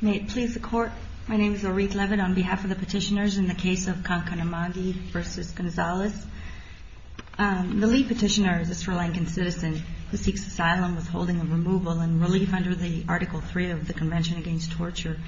The lead petitioner is a Sri Lankan citizen who seeks asylum, withholding, and removal and relief under Article 3 of the Convention Against Torture.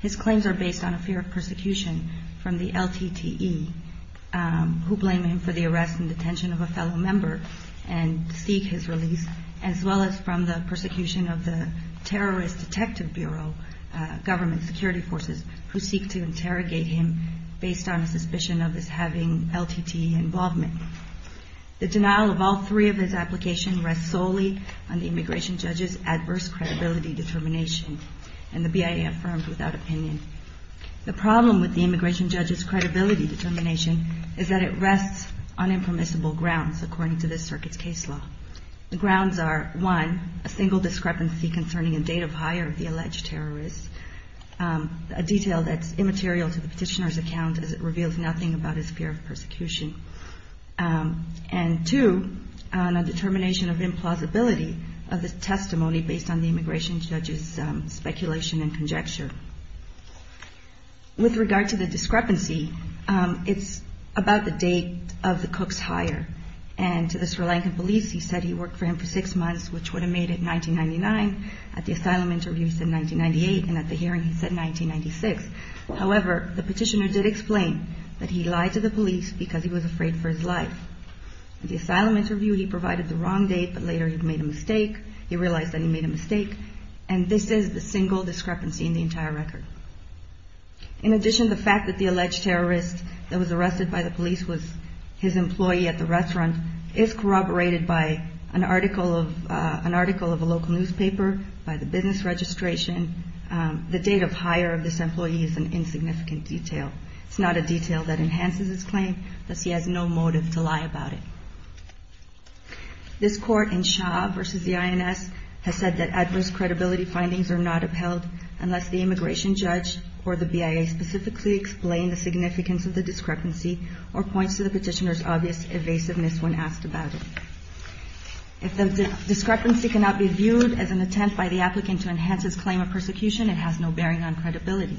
His claims are based on a fear of persecution from the LTTE, who blame him for the arrest and detention of a fellow member and seek his release, as well as from the persecution of the LTTE. The denial of all three of his applications rests solely on the immigration judge's adverse credibility determination, and the BIA affirmed without opinion. The problem with the immigration judge's credibility determination is that it rests on impermissible grounds, according to this circuit's case law. The grounds are, one, a single discrepancy concerning a date of hire of the alleged terrorist, a detail that's immaterial to the petitioner's account as it reveals nothing about his fear of persecution, and two, on a determination of implausibility of the testimony based on the immigration judge's speculation and conjecture. With regard to the discrepancy, it's about the date of the cook's hire. And to the Sri Lankan police, he said he worked for him for six months, which would have made it 1999. At the asylum interview, he said 1998, and at the hearing, he said 1996. However, the petitioner did explain that he lied to the police because he was afraid for his life. At the asylum interview, he provided the wrong date, but later he'd made a mistake. He realized that he made a mistake, and this is the single discrepancy in the entire record. In addition, the fact that the alleged terrorist that was arrested by the police was his employee at the restaurant is corroborated by an article of a local newspaper, by the business registration. The date of hire of this employee is an insignificant detail. It's not a detail that enhances his claim, thus he has no motive to lie about it. This court in Shah v. the INS has said that adverse credibility findings are not upheld unless the immigration judge or the BIA specifically explain the significance of the discrepancy or points to the petitioner's obvious evasiveness when asked about it. If the discrepancy cannot be viewed as an attempt by the applicant to enhance his claim of persecution, it has no bearing on credibility.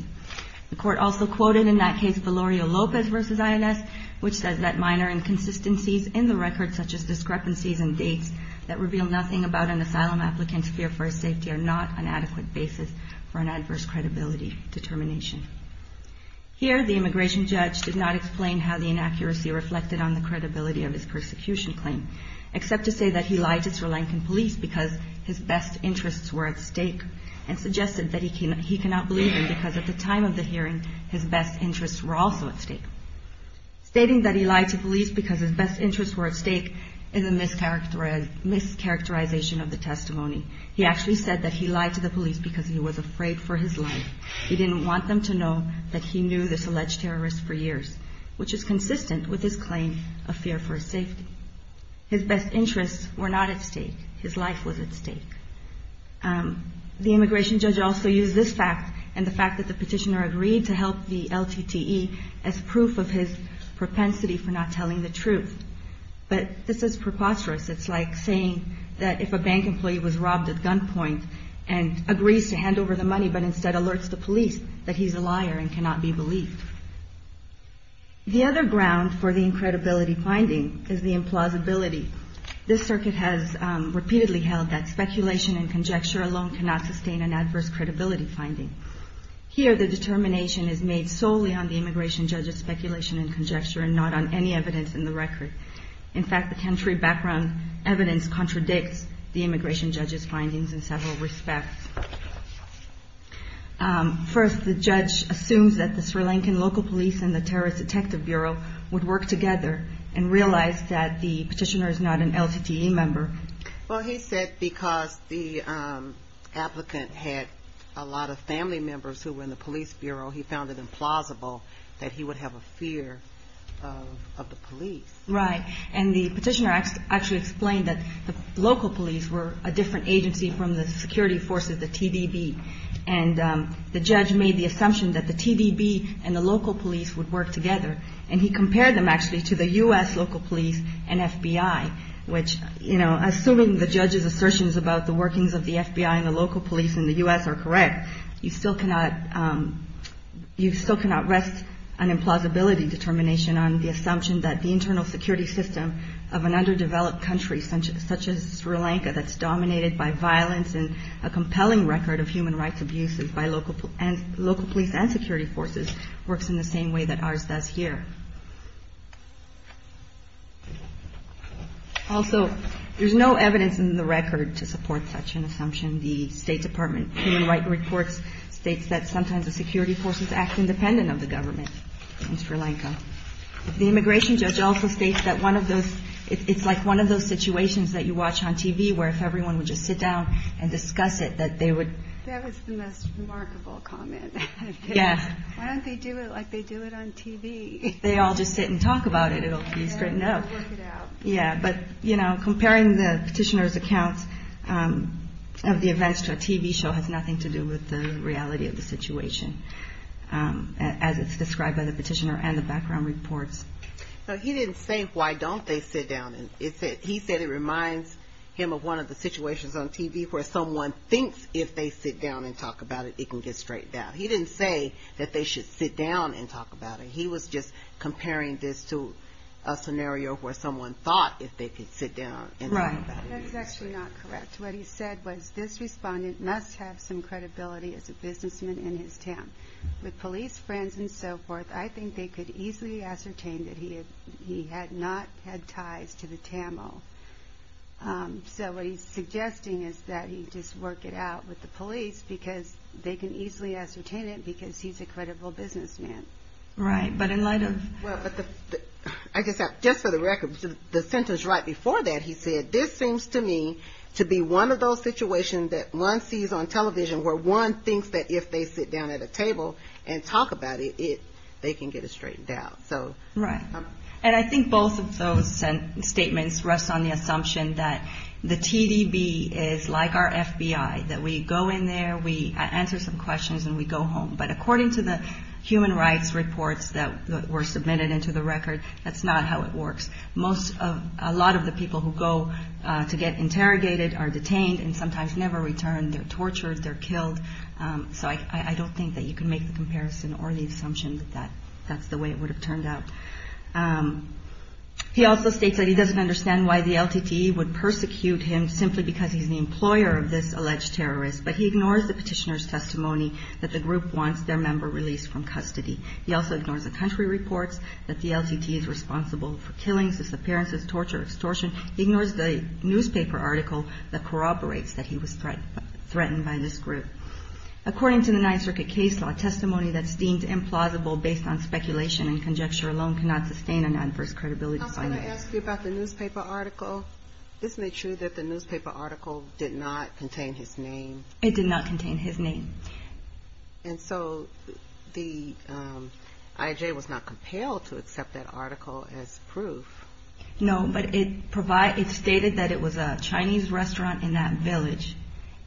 The court also quoted in that case Valerio Lopez v. INS, which says that minor inconsistencies in the record such as discrepancies in dates that reveal nothing about an asylum applicant's fear for his safety are not an adequate basis for an adverse credibility determination. Here, the immigration judge did not explain how the inaccuracy reflected on the credibility of his persecution claim, except to say that he lied to Sri Lankan police because his best interests were at stake and suggested that he cannot believe him because at the time of the hearing, his best interests were also at stake. Stating that he lied to police because his best interests were at stake is a mischaracterization of the testimony. He actually said that he lied to the police because he was afraid for his life. He didn't want them to know that he knew this alleged terrorist for years, which is consistent with his claim of fear for his safety. His best interests were not at stake. His life was at stake. The immigration judge also used this fact and the fact that the petitioner agreed to help the LTTE as proof of his propensity for not telling the truth. But this is preposterous. It's like saying that if a bank employee was robbed at gunpoint and agrees to hand over the money but instead alerts the police that he's a liar and cannot be believed. The other ground for the incredibility finding is the implausibility. This circuit has repeatedly held that speculation and conjecture alone cannot sustain an adverse credibility finding. Here, the determination is made solely on the immigration judge's speculation and conjecture and not on any evidence in the record. In fact, the country background evidence contradicts the immigration judge's findings in several respects. First, the judge assumes that the Sri Lankan local police and the terrorist detective bureau would work together and realized that the petitioner is not an LTTE member. Well, he said because the applicant had a lot of family members who were in the police bureau, he found it implausible that he would have a fear of the police. Right. And the petitioner actually explained that the local police were a different agency from the security forces, the TVB. And the judge made the assumption that the TVB and the local police would work together. And he compared them actually to the U.S. local police and FBI, which, you know, assuming the judge's assertions about the workings of the FBI and the local police in the U.S. are correct, you still cannot rest an implausibility determination on the assumption that the internal security system of an underdeveloped country such as Sri Lanka that's dominated by violence and a compelling record of human rights abuses by local police and security forces works in the same way that ours does here. Also, there's no evidence in the record to support such an assumption. The State Department Human Rights Report states that sometimes the security forces act independent of the government in Sri Lanka. The immigration judge also states that it's like one of those situations that you watch on TV where if everyone would just sit down and discuss it that they would. That was the most remarkable comment. Yes. Why don't they do it like they do it on TV? If they all just sit and talk about it, it'll be straightened out. Yeah, but, you know, comparing the petitioner's accounts of the events to a TV show has nothing to do with the reality of the situation as it's described by the petitioner and the background reports. No, he didn't say why don't they sit down. He said it reminds him of one of the situations on TV where someone thinks if they sit down and talk about it, it can get straightened out. He didn't say that they should sit down and talk about it. He was just comparing this to a scenario where someone thought if they could sit down and talk about it. Right. That's actually not correct. What he said was this respondent must have some credibility as a businessman in his town. With police friends and so forth, I think they could easily ascertain that he had not had ties to the TAMO. So what he's suggesting is that he just work it out with the police because they can easily ascertain it because he's a credible businessman. Right, but in light of. Well, I guess just for the record, the sentence right before that, he said, this seems to me to be one of those situations that one sees on television where one thinks that if they sit down at a table and talk about it, they can get it straightened out. So. Right. And I think both of those statements rest on the assumption that the TDB is like our FBI, that we go in there, we answer some questions, and we go home. But according to the human rights reports that were submitted into the record, that's not how it works. Most of a lot of the people who go to get interrogated are detained and sometimes never returned. They're tortured. They're killed. So I don't think that you can make the comparison or the assumption that that that's the way it would have turned out. He also states that he doesn't understand why the LTT would persecute him simply because he's the employer of this alleged terrorist. But he ignores the petitioner's testimony that the group wants their member released from custody. He also ignores the country reports that the LTT is responsible for killings, disappearances, torture, extortion. He ignores the newspaper article that corroborates that he was threatened by this group. According to the Ninth Circuit case law, testimony that's deemed implausible based on speculation and conjecture alone cannot sustain an adverse credibility finding. I was going to ask you about the newspaper article. Isn't it true that the newspaper article did not contain his name? It did not contain his name. And so the IJ was not compelled to accept that article as proof. No, but it provided it stated that it was a Chinese restaurant in that village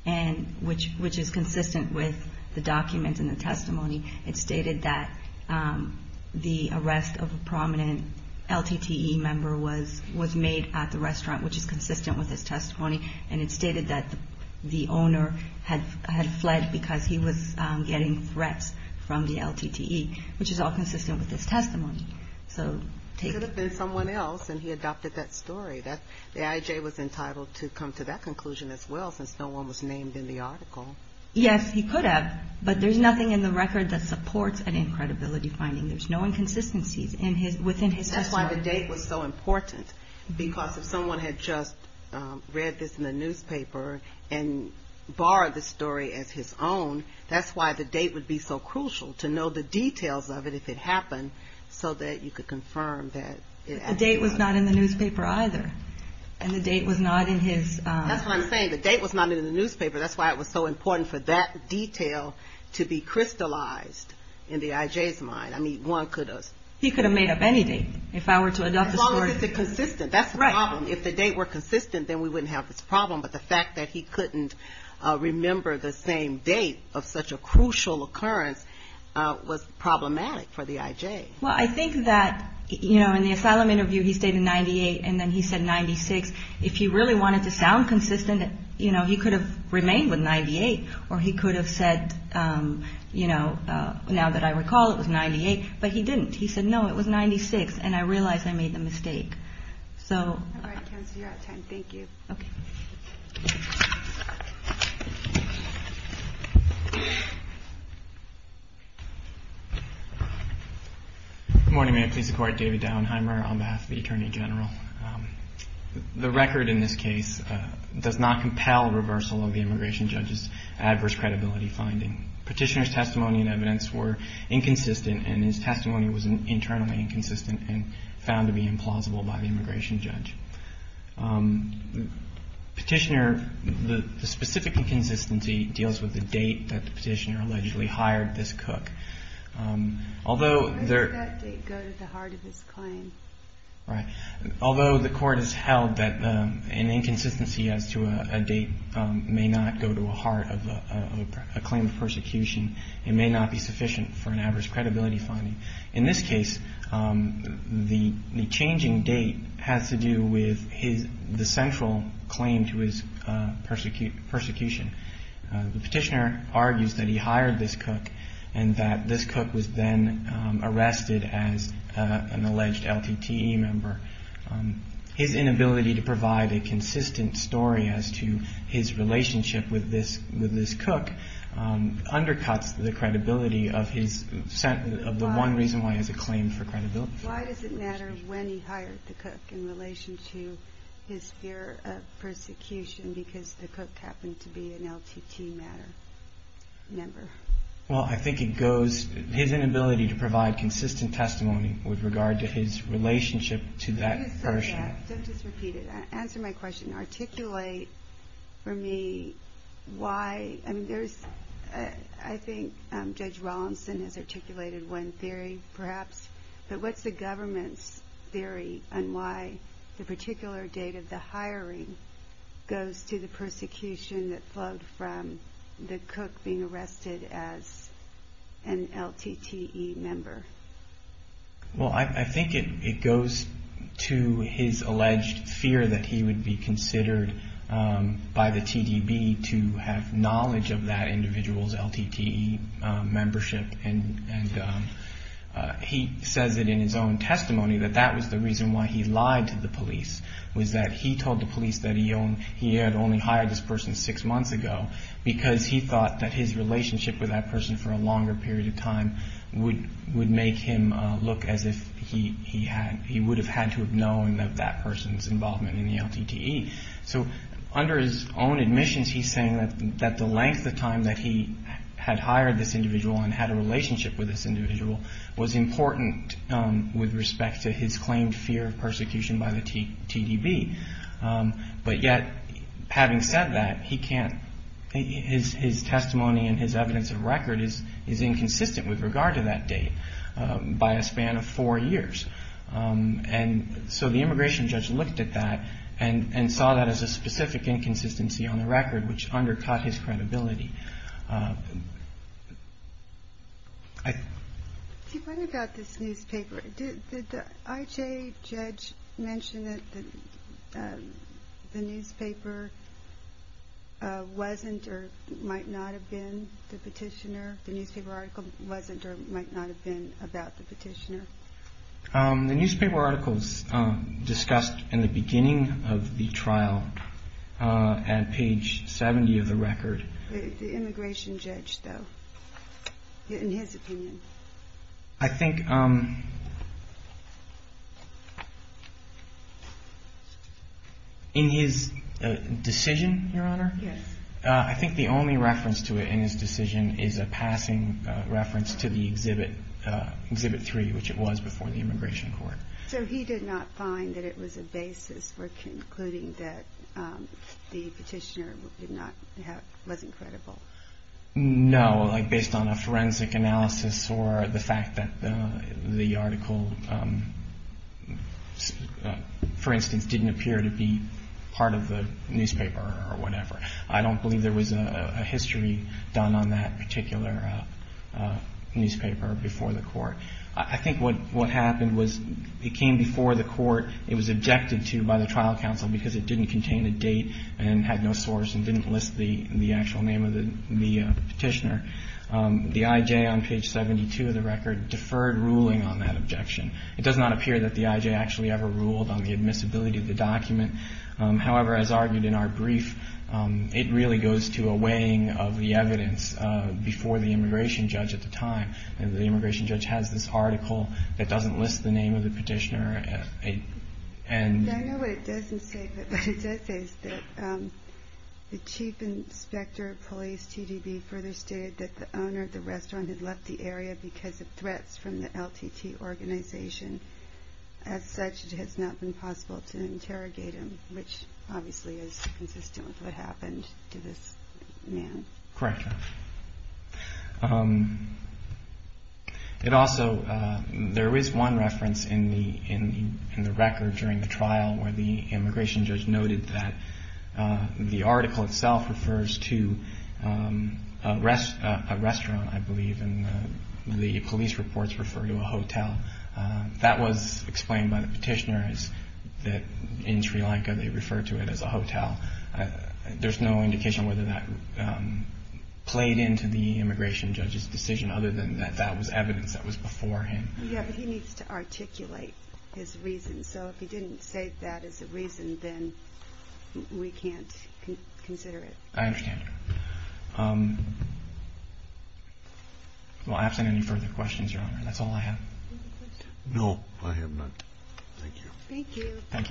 and which which is consistent with the documents in the testimony. It stated that the arrest of a prominent LTT member was was made at the restaurant, which is consistent with his testimony. And it stated that the owner had had fled because he was getting threats from the LTT, which is all consistent with this testimony. So it could have been someone else. And he adopted that story that the IJ was entitled to come to that conclusion as well, since no one was named in the article. Yes, he could have. But there's nothing in the record that supports an incredibility finding. There's no inconsistencies in his within his testimony. That's why the date was so important, because if someone had just read this in the newspaper and borrowed the story as his own, that's why the date would be so crucial to know the details of it if it happened so that you could confirm that. The date was not in the newspaper either. And the date was not in his. That's what I'm saying. The date was not in the newspaper. That's why it was so important for that detail to be crystallized in the IJ's mind. I mean, one could have. He could have made up anything if I were to adopt the story. As long as it's consistent. You know, he could have remained with 98 or he could have said, you know, now that I recall, it was 98. But he didn't. He said, no, it was 96. And I realized I made the mistake. So thank you. Good morning. Please support David Downheimer on behalf of the Attorney General. The record in this case does not compel reversal of the immigration judge's adverse credibility finding. Petitioner's testimony and evidence were inconsistent, and his testimony was internally inconsistent and found to be implausible by the immigration judge. Petitioner, the specific inconsistency deals with the date that the petitioner allegedly hired this cook. Although there. Although the court has held that an inconsistency as to a date may not go to a heart of a claim of persecution, it may not be sufficient for an adverse credibility finding. In this case, the changing date has to do with his the central claim to his persecution. The petitioner argues that he hired this cook and that this cook was then arrested as an alleged LTTE member. His inability to provide a consistent story as to his relationship with this with this cook undercuts the credibility of his set of the one claim. Why does it matter when he hired the cook in relation to his fear of persecution because the cook happened to be an LTTE member? Well, I think it goes his inability to provide consistent testimony with regard to his relationship to that person. Answer my question. Well, I think it goes to his alleged fear that he would be considered an LTTE member. He would be considered by the TDB to have knowledge of that individual's LTTE membership. And he says it in his own testimony that that was the reason why he lied to the police, was that he told the police that he had only hired this person six months ago because he thought that his relationship with that person for a longer period of time would make him look as if he would have had to have known that that person's involvement in the LTTE. So under his own admissions, he's saying that the length of time that he had hired this individual and had a relationship with this individual was important with respect to his claimed fear of persecution by the TDB. But yet, having said that, his testimony and his evidence of record is inconsistent with regard to that date by a span of four years. And so the immigration judge looked at that and saw that as a specific inconsistency on the record, which undercut his credibility. Did the IJ judge mention that the newspaper wasn't or might not have been the petitioner, the newspaper article wasn't or might not have been about the petitioner? The newspaper articles discussed in the beginning of the trial at page 70 of the record. The immigration judge, though, in his opinion. I think in his decision, Your Honor, I think the only reference to it in his decision is a passing reference to the Exhibit 3, which it was before the immigration judge. So he did not find that it was a basis for concluding that the petitioner was not credible? No, like based on a forensic analysis or the fact that the article, for instance, didn't appear to be part of the newspaper or whatever. I don't believe there was a history done on that particular newspaper before the court. I think what happened was it came before the court. It was objected to by the trial counsel because it didn't contain a date and had no source and didn't list the actual name of the petitioner. The IJ on page 72 of the record deferred ruling on that objection. It does not appear that the IJ actually ever ruled on the admissibility of the document. However, as argued in our brief, it really goes to a weighing of the evidence before the immigration judge at the time. The immigration judge has this article that doesn't list the name of the petitioner. I know what it doesn't say, but what it does say is that the chief inspector of police, TDB, further stated that the owner of the restaurant had left the area because of threats from the LTT organization. As such, it has not been possible to interrogate him, which obviously is consistent with what happened to this man. Correct. Also, there is one reference in the record during the trial where the immigration judge noted that the article itself refers to a restaurant, I believe, and the police reports refer to a hotel. That was explained by the petitioners that in Sri Lanka they refer to it as a hotel. There's no indication whether that played into the immigration judge's decision, other than that that was evidence that was before him. Yes, but he needs to articulate his reason, so if he didn't say that as a reason, then we can't consider it. I understand. Well, absent any further questions, Your Honor, that's all I have. No, I have none. Thank you. Thank you.